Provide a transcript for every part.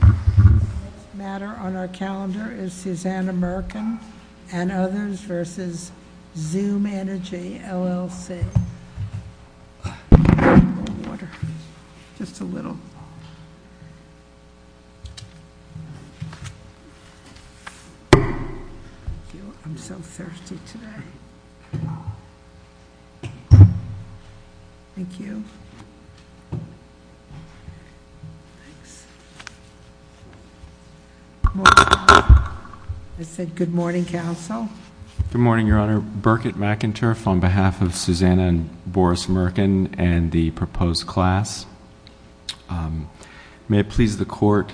The next matter on our calendar is Susanna Murkin and others v. XOOM Energy, LLC Good morning, counsel. I said good morning, counsel. Good morning, Your Honor. Burkitt McInturff on behalf of Susanna and Boris Murkin and the proposed class. May it please the court,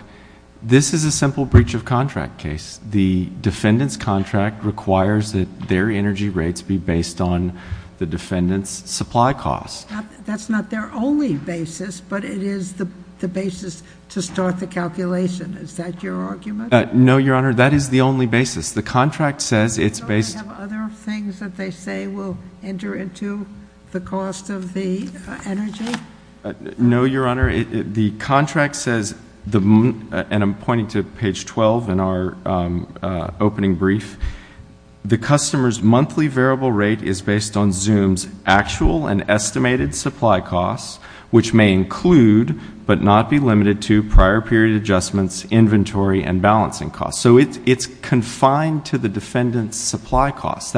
this is a simple breach of contract case. The defendant's contract requires that their energy rates be based on the defendant's supply costs. That's not their only basis, but it is the basis to start the calculation. Is that your argument? No, Your Honor. That is the only basis. The contract says it's based Do they have other things that they say will enter into the cost of the energy? No, Your Honor. The contract says, and I'm pointing to page 12 in our opening brief, the customer's monthly variable rate is based on XOOM's actual and estimated supply costs, which may include but not be limited to prior period adjustments, inventory, and balancing costs. So it's confined to the defendant's supply costs.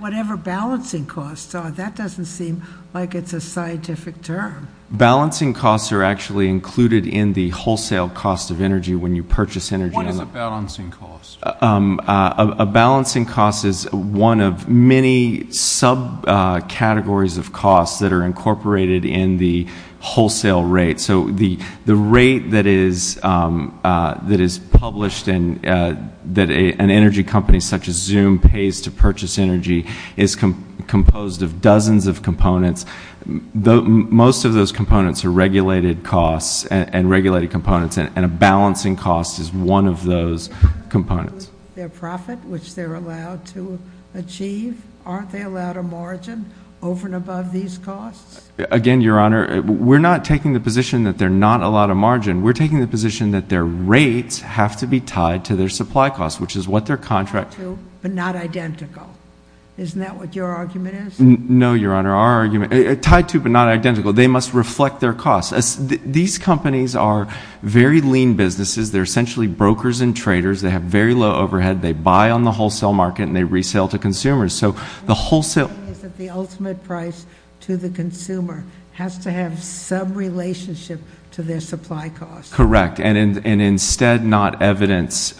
Whatever balancing costs are, that doesn't seem like it's a scientific term. Balancing costs are actually included in the wholesale cost of energy when you purchase energy. What is a balancing cost? A balancing cost is one of many subcategories of costs that are incorporated in the wholesale rate. So the rate that is published and that an energy company such as XOOM pays to purchase energy is composed of dozens of components. Most of those components are regulated costs and regulated components, and a balancing cost is one of those components. Are they allowed to include their profit, which they're allowed to achieve? Aren't they allowed a margin over and above these costs? Again, Your Honor, we're not taking the position that they're not allowed a margin. We're taking the position that their rates have to be tied to their supply costs, which is what their contract Tied to but not identical. Isn't that what your argument is? No, Your Honor, our argument, tied to but not identical, they must reflect their costs. These companies are very lean businesses. They're essentially brokers and traders. They have very low overhead. They buy on the wholesale market, and they resale to consumers. So the wholesale The ultimate price to the consumer has to have some relationship to their supply costs. Correct. And instead not evidence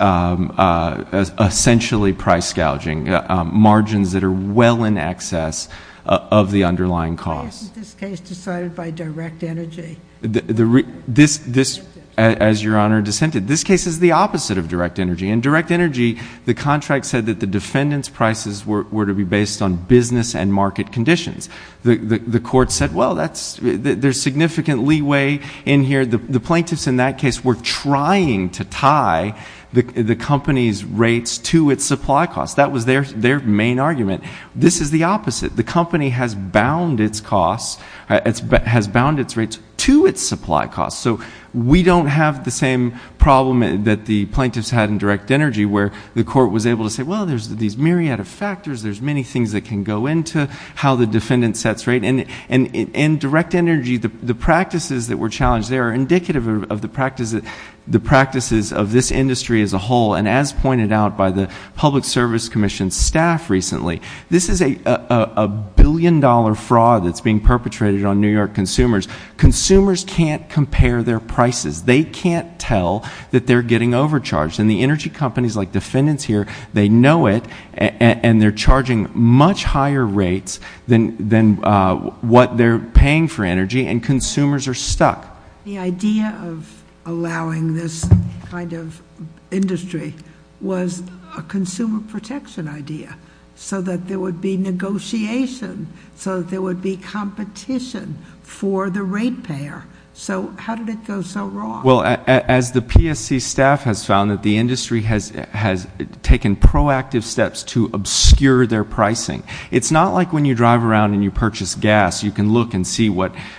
essentially price gouging margins that are well in excess of the underlying costs. Why isn't this case decided by direct energy? This, as Your Honor dissented, this case is the opposite of direct energy. In direct energy, the contract said that the defendant's prices were to be based on business and market conditions. The court said, well, there's significant leeway in here. The plaintiffs in that case were trying to tie the company's rates to its supply costs. That was their main argument. This is the opposite. The company has bound its costs, has bound its rates to its supply costs. So we don't have the same problem that the plaintiffs had in direct energy where the court was able to say, Well, there's these myriad of factors. There's many things that can go into how the defendant sets rates. In direct energy, the practices that were challenged there are indicative of the practices of this industry as a whole. And as pointed out by the Public Service Commission staff recently, this is a billion dollar fraud that's being perpetrated on New York consumers. Consumers can't compare their prices. They can't tell that they're getting overcharged. And the energy companies like defendants here, they know it, and they're charging much higher rates than what they're paying for energy. And consumers are stuck. The idea of allowing this kind of industry was a consumer protection idea so that there would be negotiation, so that there would be competition for the rate payer. So how did it go so wrong? Well, as the PSC staff has found, the industry has taken proactive steps to obscure their pricing. It's not like when you drive around and you purchase gas, you can look and see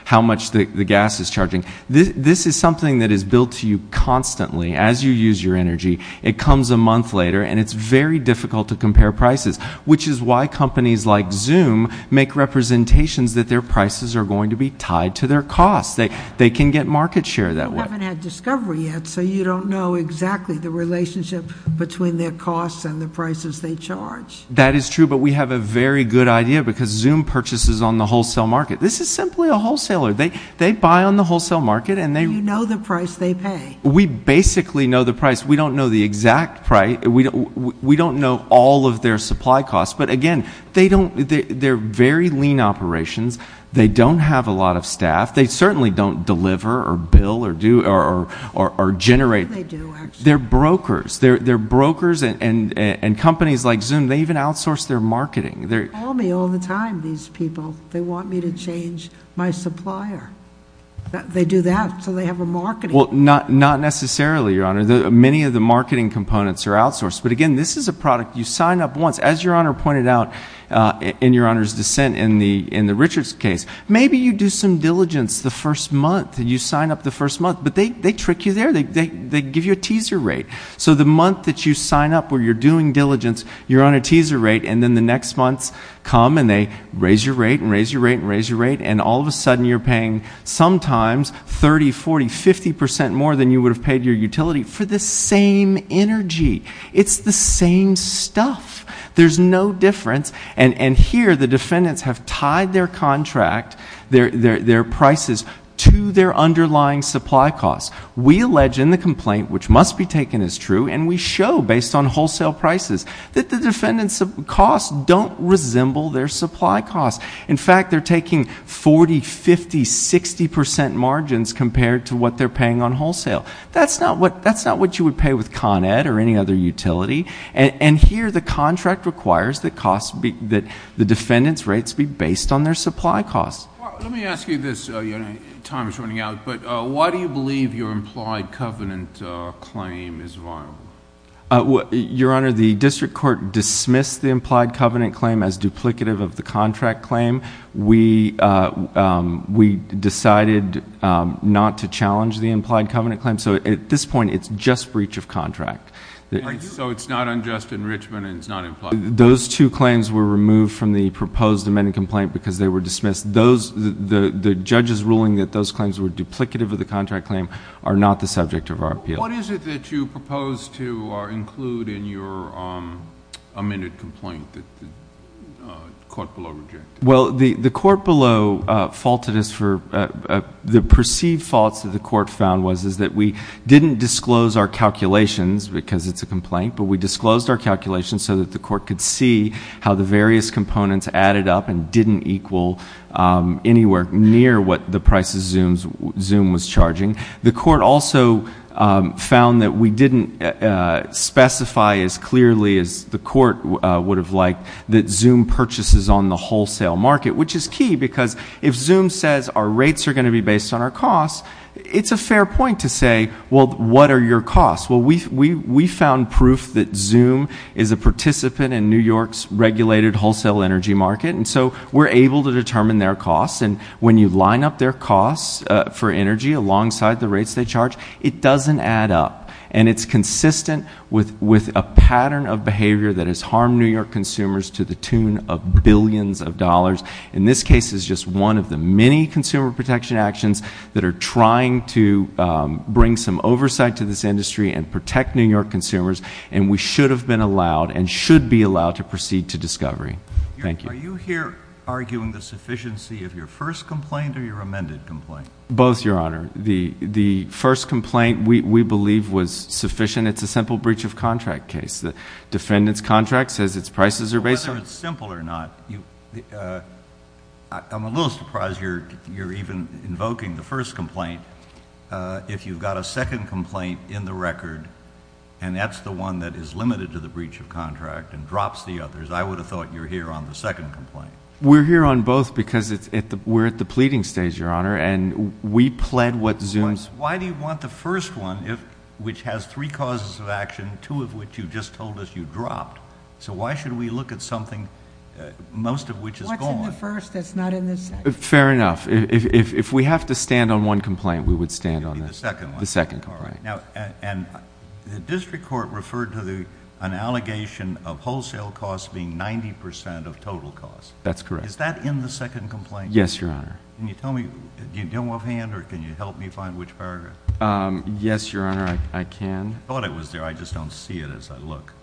how much the gas is charging. This is something that is built to you constantly as you use your energy. It comes a month later, and it's very difficult to compare prices, which is why companies like Zoom make representations that their prices are going to be tied to their costs. They can get market share that way. You haven't had discovery yet, so you don't know exactly the relationship between their costs and the prices they charge. That is true, but we have a very good idea because Zoom purchases on the wholesale market. This is simply a wholesaler. They buy on the wholesale market, and they— You know the price they pay. We basically know the price. We don't know the exact price. We don't know all of their supply costs. But, again, they're very lean operations. They don't have a lot of staff. They certainly don't deliver or bill or generate. They do, actually. They're brokers. They're brokers, and companies like Zoom, they even outsource their marketing. They call me all the time, these people. They want me to change my supplier. They do that so they have a marketing— Well, not necessarily, Your Honor. Many of the marketing components are outsourced. But, again, this is a product you sign up once. As Your Honor pointed out in Your Honor's dissent in the Richards case, maybe you do some diligence the first month. You sign up the first month, but they trick you there. They give you a teaser rate. So the month that you sign up where you're doing diligence, you're on a teaser rate, and then the next months come, and they raise your rate and raise your rate and raise your rate, and all of a sudden you're paying sometimes 30%, 40%, 50% more than you would have paid your utility for the same energy. It's the same stuff. There's no difference. And here the defendants have tied their contract, their prices, to their underlying supply costs. We allege in the complaint, which must be taken as true, and we show based on wholesale prices that the defendants' costs don't resemble their supply costs. In fact, they're taking 40%, 50%, 60% margins compared to what they're paying on wholesale. That's not what you would pay with Con Ed or any other utility. And here the contract requires that the defendants' rates be based on their supply costs. Let me ask you this. Your time is running out, but why do you believe your implied covenant claim is viable? Your Honor, the district court dismissed the implied covenant claim as duplicative of the contract claim. We decided not to challenge the implied covenant claim. So at this point it's just breach of contract. So it's not unjust enrichment and it's not implied? Those two claims were removed from the proposed amended complaint because they were dismissed. The judge's ruling that those claims were duplicative of the contract claim are not the subject of our appeal. What is it that you propose to include in your amended complaint that the court below rejected? Well, the court below faulted us for the perceived faults that the court found was that we didn't disclose our calculations because it's a complaint, but we disclosed our calculations so that the court could see how the various components added up and didn't equal anywhere near what the price of Zoom was charging. The court also found that we didn't specify as clearly as the court would have liked that Zoom purchases on the wholesale market, which is key because if Zoom says our rates are going to be based on our costs, it's a fair point to say, well, what are your costs? Well, we found proof that Zoom is a participant in New York's regulated wholesale energy market, and so we're able to determine their costs, and when you line up their costs for energy alongside the rates they charge, it doesn't add up. And it's consistent with a pattern of behavior that has harmed New York consumers to the tune of billions of dollars. In this case, it's just one of the many consumer protection actions that are trying to bring some oversight to this industry and protect New York consumers, and we should have been allowed and should be allowed to proceed to discovery. Thank you. Are you here arguing the sufficiency of your first complaint or your amended complaint? Both, Your Honor. The first complaint, we believe, was sufficient. It's a simple breach of contract case. The defendant's contract says its prices are based on it. Whether it's simple or not, I'm a little surprised you're even invoking the first complaint. If you've got a second complaint in the record and that's the one that is limited to the breach of contract and drops the others, I would have thought you were here on the second complaint. We're here on both because we're at the pleading stage, Your Honor, and we pled what Zoom's- Why do you want the first one, which has three causes of action, two of which you just told us you dropped? So why should we look at something, most of which is gone? What's in the first that's not in the second? Fair enough. If we have to stand on one complaint, we would stand on the second complaint. The district court referred to an allegation of wholesale costs being 90% of total costs. That's correct. Is that in the second complaint? Yes, Your Honor. Can you tell me? Do you have a hand or can you help me find which paragraph? Yes, Your Honor, I can. I thought it was there. I just don't see it as I look.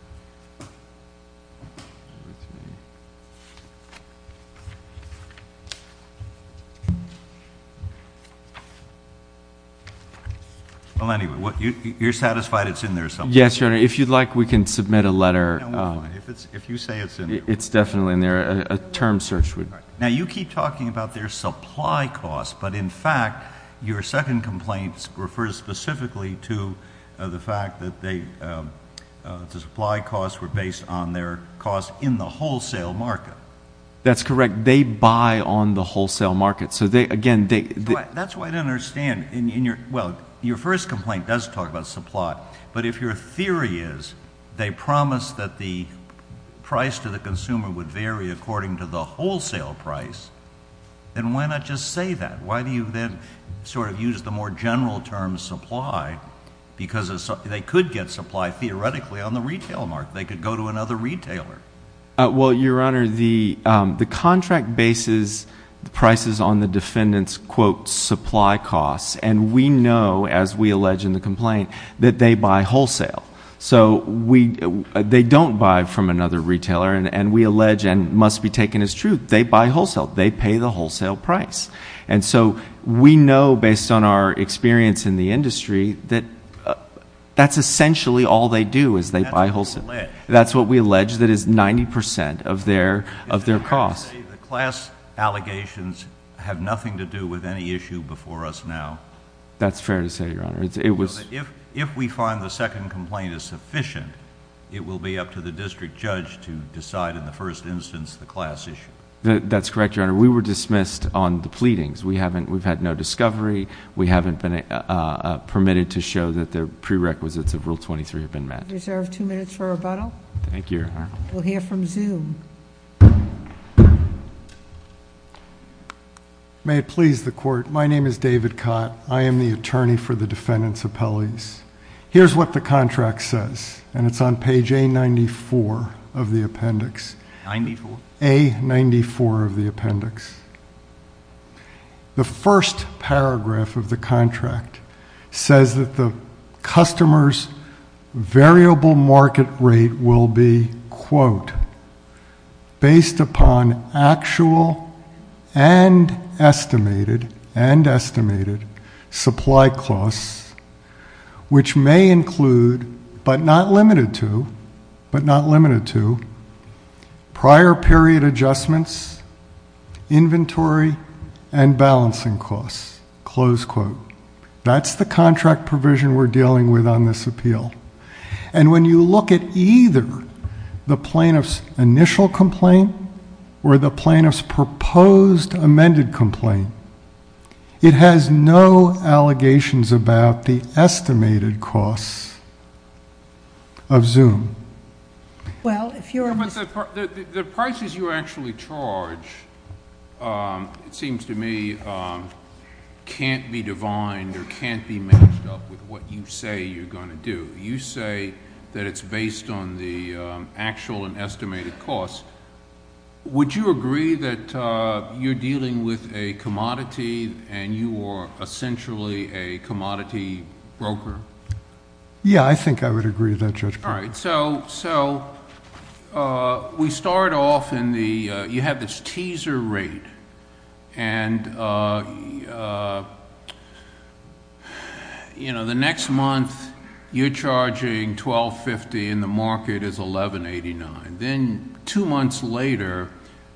Well, anyway, you're satisfied it's in there somewhere? Yes, Your Honor. If you'd like, we can submit a letter- No, wait a minute. If you say it's in there- It's definitely in there. A term search would- All right. Now, you keep talking about their supply costs, but in fact, your second complaint refers specifically to the fact that the supply costs were based on their cost in the wholesale market. That's correct. They buy on the wholesale market. So, again, they- That's why I don't understand. Well, your first complaint does talk about supply, but if your theory is they promise that the price to the consumer would vary according to the wholesale price, then why not just say that? Why do you then sort of use the more general term, supply, because they could get supply theoretically on the retail market. They could go to another retailer. Well, Your Honor, the contract bases prices on the defendant's, quote, supply costs, and we know, as we allege in the complaint, that they buy wholesale. So they don't buy from another retailer, and we allege, and it must be taken as truth, they buy wholesale. They pay the wholesale price. And so we know, based on our experience in the industry, that that's essentially all they do is they buy wholesale. That's what we allege. That's what we allege that is 90% of their cost. The class allegations have nothing to do with any issue before us now. That's fair to say, Your Honor. If we find the second complaint is sufficient, it will be up to the district judge to decide in the first instance the class issue. That's correct, Your Honor. We were dismissed on the pleadings. We've had no discovery. We haven't been permitted to show that the prerequisites of Rule 23 have been met. You deserve two minutes for rebuttal. Thank you, Your Honor. We'll hear from Zoom. May it please the court. My name is David Cott. I am the attorney for the defendant's appellees. Here's what the contract says, and it's on page A94 of the appendix. 94. A94 of the appendix. The first paragraph of the contract says that the customer's variable market rate will be, quote, and balancing costs, close quote. That's the contract provision we're dealing with on this appeal. And when you look at either the plaintiff's initial complaint or the plaintiff's proposed amended complaint, it has no allegations about the estimated costs of Zoom. Well, if you're... But the prices you actually charge, it seems to me, can't be divined or can't be matched up with what you say you're going to do. You say that it's based on the actual and estimated costs. Would you agree that you're dealing with a commodity and you are essentially a commodity broker? Yeah, I think I would agree with that, Judge Prado. All right. So we start off in the... you have this teaser rate. And, you know, the next month you're charging $1,250 and the market is $1,189. Then two months later,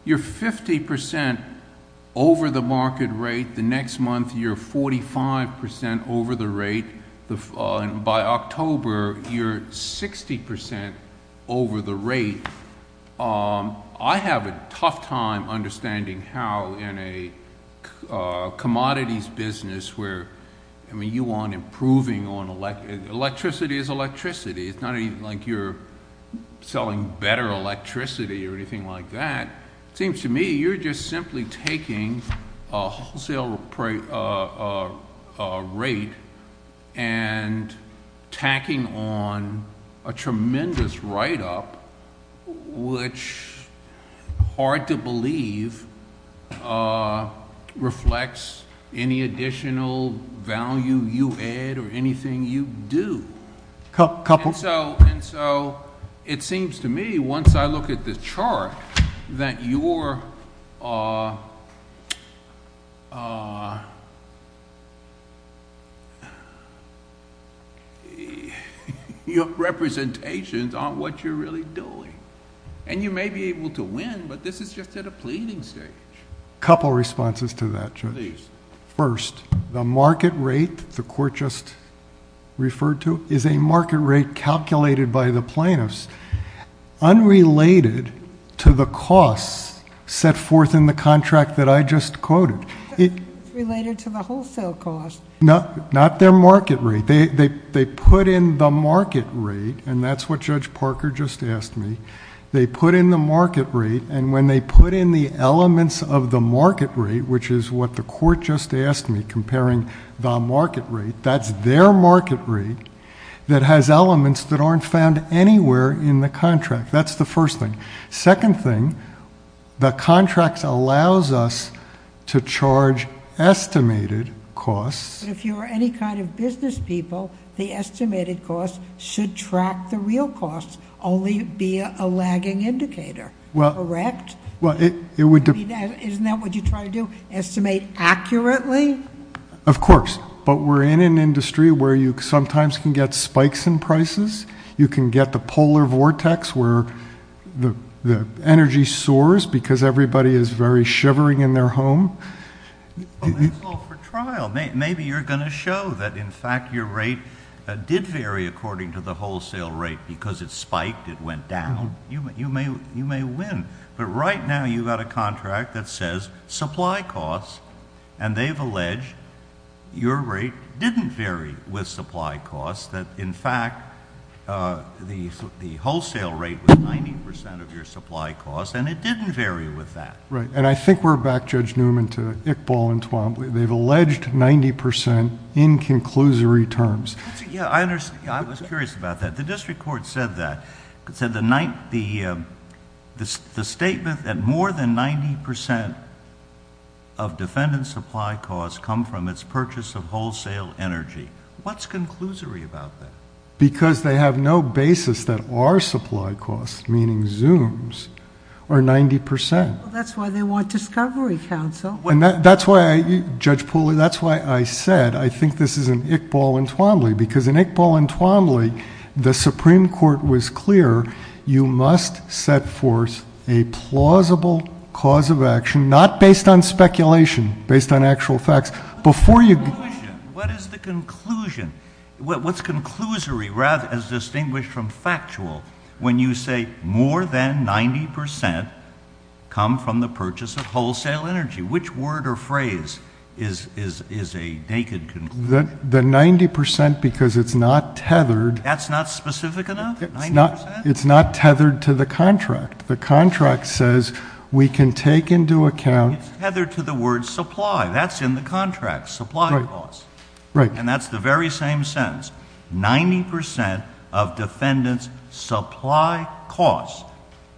you're 50 percent over the market rate. The next month you're 45 percent over the rate. By October, you're 60 percent over the rate. I have a tough time understanding how in a commodities business where... I mean, you want improving on... electricity is electricity. It's not even like you're selling better electricity or anything like that. It seems to me you're just simply taking a wholesale rate and tacking on a tremendous write-up, which, hard to believe, reflects any additional value you add or anything you do. Couple. And so it seems to me, once I look at this chart, that your representations aren't what you're really doing. And you may be able to win, but this is just at a pleading stage. A couple of responses to that, Judge. Please. First, the market rate the court just referred to is a market rate calculated by the plaintiffs, unrelated to the costs set forth in the contract that I just quoted. Related to the wholesale cost. Not their market rate. They put in the market rate, and that's what Judge Parker just asked me. They put in the market rate, and when they put in the elements of the market rate, which is what the court just asked me, comparing the market rate, that's their market rate, that has elements that aren't found anywhere in the contract. That's the first thing. Second thing, the contract allows us to charge estimated costs. But if you're any kind of business people, the estimated costs should track the real costs, only be a lagging indicator. Correct? Isn't that what you try to do, estimate accurately? Of course. But we're in an industry where you sometimes can get spikes in prices. You can get the polar vortex where the energy soars because everybody is very shivering in their home. That's all for trial. Maybe you're going to show that, in fact, your rate did vary according to the wholesale rate because it spiked, it went down. You may win. But right now you've got a contract that says supply costs, and they've alleged your rate didn't vary with supply costs, that, in fact, the wholesale rate was 90% of your supply costs, and it didn't vary with that. Right, and I think we're back, Judge Newman, to Iqbal and Twombly. They've alleged 90% in conclusory terms. Yeah, I was curious about that. The district court said that. It said the statement that more than 90% of defendant's supply costs come from its purchase of wholesale energy. What's conclusory about that? Because they have no basis that our supply costs, meaning Zoom's, are 90%. That's why they want discovery, counsel. Judge Pooley, that's why I said I think this is an Iqbal and Twombly, because in Iqbal and Twombly the Supreme Court was clear you must set forth a plausible cause of action, not based on speculation, based on actual facts. What is the conclusion? What's conclusory as distinguished from factual when you say more than 90% come from the purchase of wholesale energy? Which word or phrase is a naked conclusion? The 90% because it's not tethered. That's not specific enough? 90%? It's not tethered to the contract. The contract says we can take into account... It's tethered to the word supply. That's in the contract, supply costs. Right. And that's the very same sentence. 90% of defendant's supply costs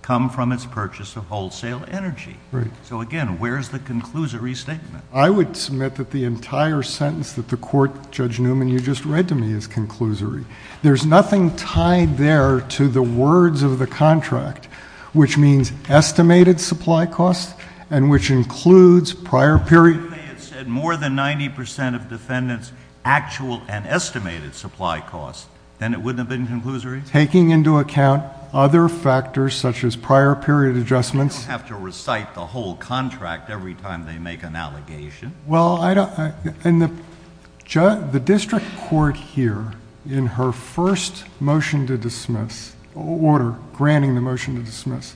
come from its purchase of wholesale energy. Right. So, again, where's the conclusory statement? I would submit that the entire sentence that the court, Judge Newman, you just read to me is conclusory. There's nothing tied there to the words of the contract, which means estimated supply costs and which includes prior period... If they had said more than 90% of defendant's actual and estimated supply costs, then it wouldn't have been conclusory? Taking into account other factors such as prior period adjustments... They don't have to recite the whole contract every time they make an allegation. Well, I don't... And the district court here, in her first motion to dismiss, order granting the motion to dismiss,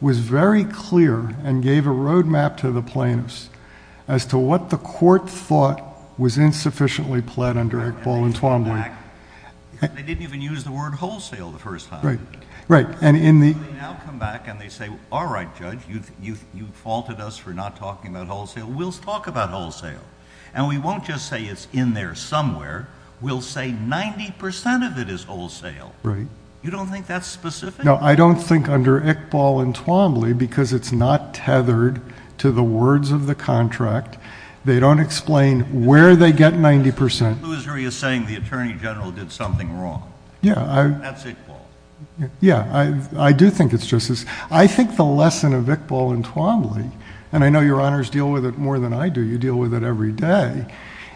was very clear and gave a road map to the plaintiffs as to what the court thought was insufficiently pled under Iqbal and Twombly. They didn't even use the word wholesale the first time. Right. So, they now come back and they say, all right, Judge, you faulted us for not talking about wholesale. We'll talk about wholesale. And, we won't just say it's in there somewhere. We'll say 90% of it is wholesale. Right. You don't think that's specific? No, I don't think under Iqbal and Twombly, because it's not tethered to the words of the contract. They don't explain where they get 90%. The conclusory is saying the Attorney General did something wrong. Yeah, I... That's Iqbal. Yeah, I do think it's just as... I think the lesson of Iqbal and Twombly, and I know Your Honors deal with it more than I do, you deal with it every day,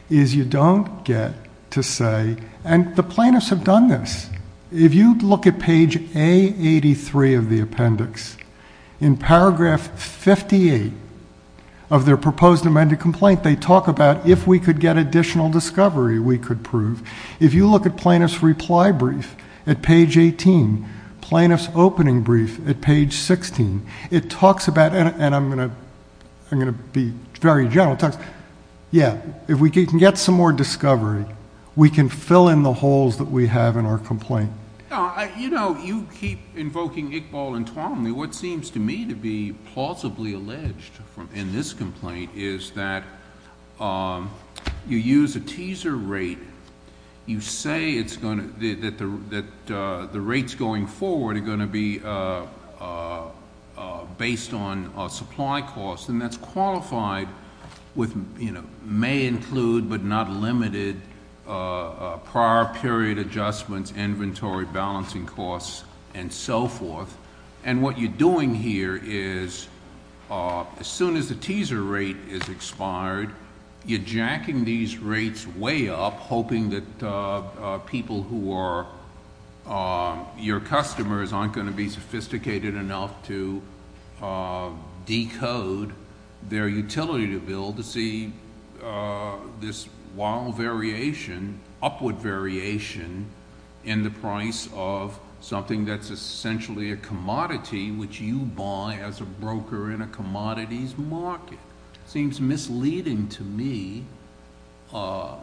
is you don't get to say... And, the plaintiffs have done this. If you look at page A83 of the appendix, in paragraph 58 of their proposed amended complaint, they talk about if we could get additional discovery, we could prove. If you look at plaintiff's reply brief at page 18, plaintiff's opening brief at page 16, it talks about... And, I'm going to be very general. Yeah, if we can get some more discovery, we can fill in the holes that we have in our complaint. You know, you keep invoking Iqbal and Twombly. What seems to me to be plausibly alleged in this complaint is that you use a teaser rate. You say it's going to... that the rates going forward are going to be based on supply costs. And, that's qualified with... may include, but not limited, prior period adjustments, inventory, balancing costs, and so forth. And, what you're doing here is, as soon as the teaser rate is expired, you're jacking these rates way up, hoping that people who are your customers aren't going to be sophisticated enough to decode their utility bill... This wild variation, upward variation, in the price of something that's essentially a commodity, which you buy as a broker in a commodities market. Seems misleading to me. I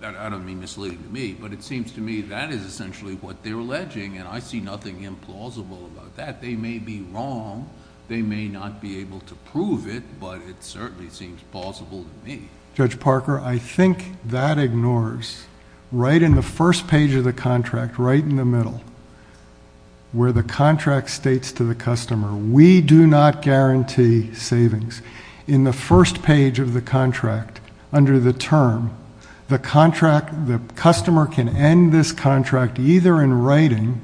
don't mean misleading to me, but it seems to me that is essentially what they're alleging. And, I see nothing implausible about that. They may be wrong. They may not be able to prove it, but it certainly seems plausible to me. Judge Parker, I think that ignores, right in the first page of the contract, right in the middle, where the contract states to the customer, we do not guarantee savings. In the first page of the contract, under the term, the contract, the customer can end this contract, either in writing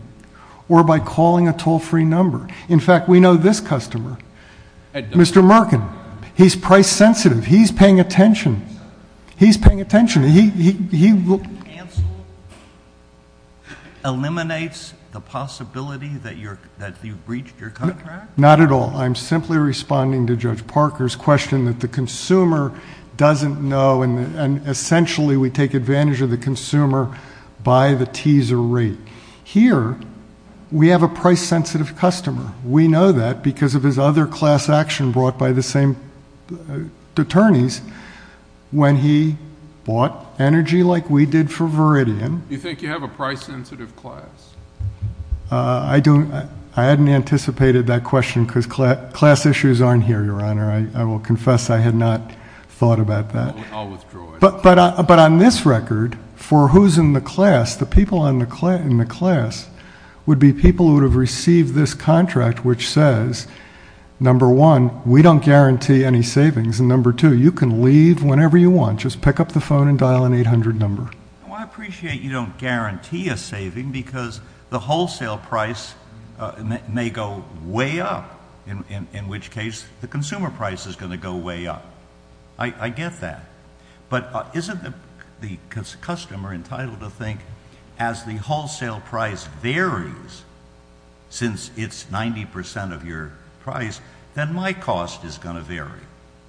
or by calling a toll-free number. In fact, we know this customer, Mr. Merkin. He's price sensitive. He's paying attention. He's paying attention. He... Cancel eliminates the possibility that you've breached your contract? Not at all. I'm simply responding to Judge Parker's question that the consumer doesn't know. And, essentially, we take advantage of the consumer by the teaser rate. Here, we have a price sensitive customer. We know that because of his other class action brought by the same attorneys when he bought energy like we did for Viridian. You think you have a price sensitive class? I hadn't anticipated that question because class issues aren't here, Your Honor. I will confess I had not thought about that. I'll withdraw it. But on this record, for who's in the class, the people in the class would be people who would have received this contract, which says, number one, we don't guarantee any savings. And, number two, you can leave whenever you want. Just pick up the phone and dial an 800 number. Well, I appreciate you don't guarantee a saving because the wholesale price may go way up, in which case the consumer price is going to go way up. I get that. But isn't the customer entitled to think, as the wholesale price varies since it's 90 percent of your price, then my cost is going to vary?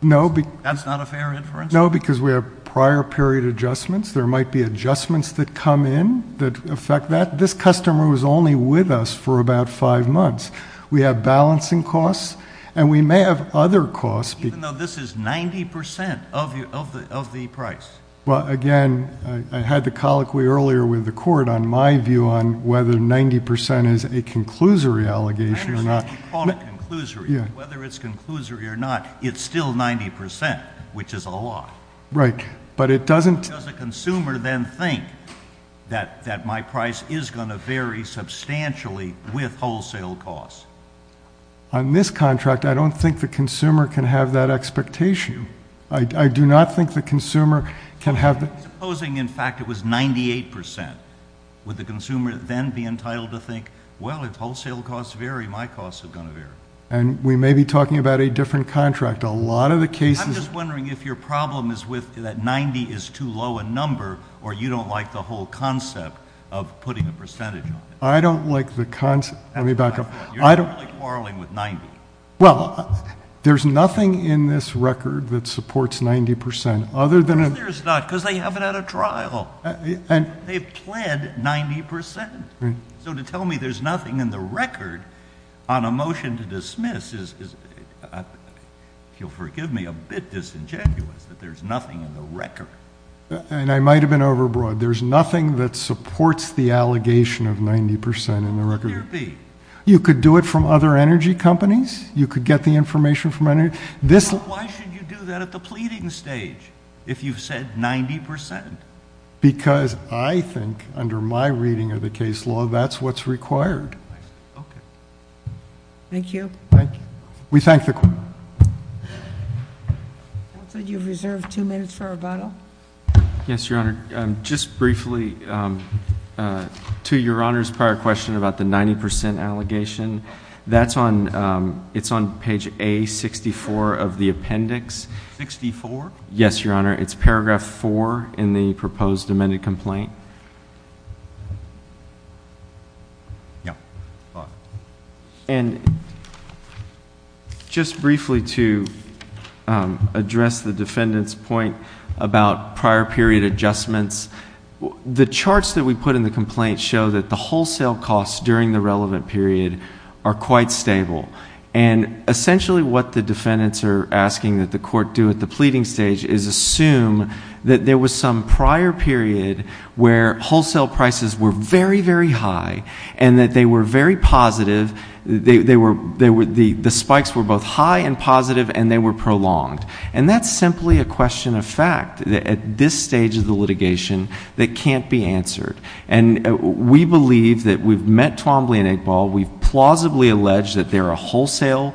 No. That's not a fair inference? No, because we have prior period adjustments. There might be adjustments that come in that affect that. This customer was only with us for about five months. We have balancing costs, and we may have other costs. Even though this is 90 percent of the price? Well, again, I had the colloquy earlier with the court on my view on whether 90 percent is a conclusory allegation or not. 90 percent, you call it conclusory. Whether it's conclusory or not, it's still 90 percent, which is a lot. Right. But it doesn't Does the consumer then think that my price is going to vary substantially with wholesale costs? On this contract, I don't think the consumer can have that expectation. I do not think the consumer can have Supposing, in fact, it was 98 percent. Would the consumer then be entitled to think, well, if wholesale costs vary, my costs are going to vary? And we may be talking about a different contract. A lot of the cases I'm just wondering if your problem is that 90 is too low a number, or you don't like the whole concept of putting a percentage on it. I don't like the concept. Let me back up. You're not really quarreling with 90. Well, there's nothing in this record that supports 90 percent other than Of course there's not, because they haven't had a trial. They've pled 90 percent. So to tell me there's nothing in the record on a motion to dismiss is If you'll forgive me, a bit disingenuous that there's nothing in the record. And I might have been overbroad. There's nothing that supports the allegation of 90 percent in the record. You could do it from other energy companies. You could get the information from energy. Why should you do that at the pleading stage if you've said 90 percent? Because I think under my reading of the case law, that's what's required. Okay. Thank you. Thank you. We thank the court. You have reserved two minutes for rebuttal. Yes, Your Honor. Just briefly, to Your Honor's prior question about the 90 percent allegation, that's on page A64 of the appendix. 64? Yes, Your Honor. It's paragraph 4 in the proposed amended complaint. Yes. And just briefly to address the defendant's point about prior period adjustments, the charts that we put in the complaint show that the wholesale costs during the relevant period are quite stable. And essentially what the defendants are asking that the court do at the time where wholesale prices were very, very high and that they were very positive, the spikes were both high and positive and they were prolonged. And that's simply a question of fact at this stage of the litigation that can't be answered. And we believe that we've met Twombly and Eggball. We've plausibly alleged that they're a wholesale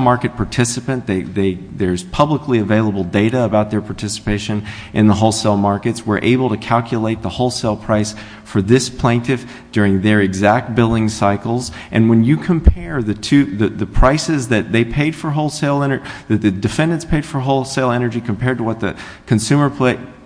market participant. There's publicly available data about their participation in the wholesale markets. We're able to calculate the wholesale price for this plaintiff during their exact billing cycles. And when you compare the two, the prices that they paid for wholesale... that the defendants paid for wholesale energy compared to what the consumer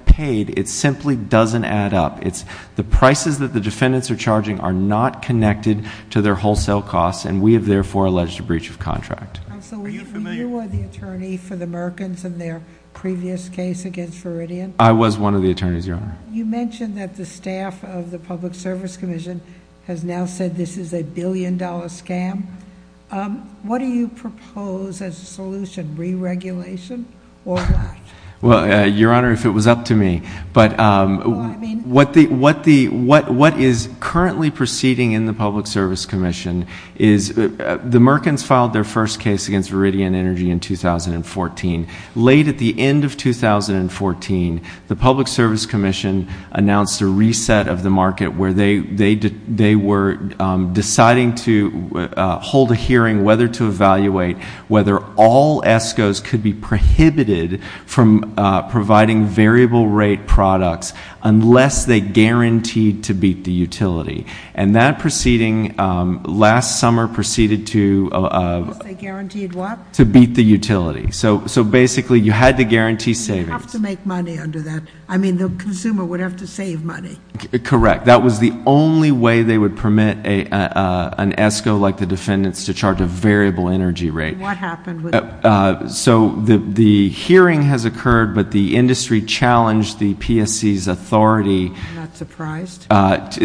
paid, it simply doesn't add up. It's the prices that the defendants are charging are not connected to their wholesale costs and we have therefore alleged a breach of contract. Are you familiar... You were the attorney for the Merkins in their previous case against Viridian? I was one of the attorneys, Your Honor. You mentioned that the staff of the Public Service Commission has now said this is a billion-dollar scam. What do you propose as a solution, re-regulation or not? Well, Your Honor, if it was up to me. But what is currently proceeding in the Public Service Commission is the Merkins filed their first case against Viridian Energy in 2014. Late at the end of 2014, the Public Service Commission announced a reset of the market where they were deciding to hold a hearing whether to evaluate whether all ESCOs could be prohibited from providing variable rate products unless they guaranteed to beat the utility. And that proceeding last summer proceeded to... They guaranteed what? To beat the utility. So basically, you had to guarantee savings. You have to make money under that. I mean, the consumer would have to save money. Correct. That was the only way they would permit an ESCO like the defendant's to charge a variable energy rate. What happened? So the hearing has occurred, but the industry challenged the PSC's authority... I'm not surprised.... to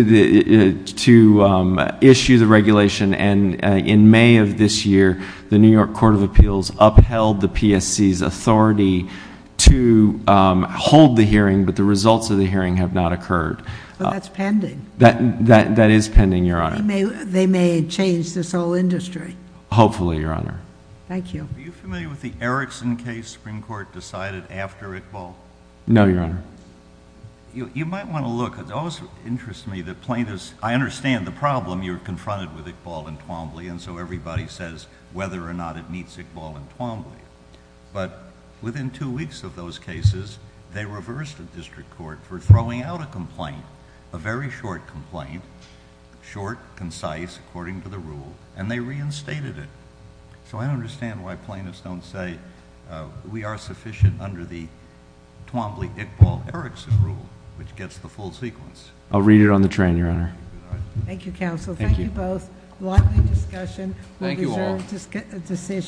issue the regulation. And in May of this year, the New York Court of Appeals upheld the PSC's authority to hold the hearing, but the results of the hearing have not occurred. But that's pending. That is pending, Your Honor. They may change this whole industry. Hopefully, Your Honor. Thank you. Are you familiar with the Erickson case the Supreme Court decided after Iqbal? You might want to look. It always interests me that plaintiffs... I understand the problem. You're confronted with Iqbal and Twombly, and so everybody says whether or not it meets Iqbal and Twombly. But within two weeks of those cases, they reversed the district court for throwing out a complaint, a very short complaint, short, concise, according to the rule, and they reinstated it. So I understand why plaintiffs don't say we are sufficient under the Twombly-Iqbal-Erickson rule, which gets the full sequence. I'll read it on the train, Your Honor. Thank you, counsel. Thank you both. Likely discussion. Thank you all. We deserve a decision.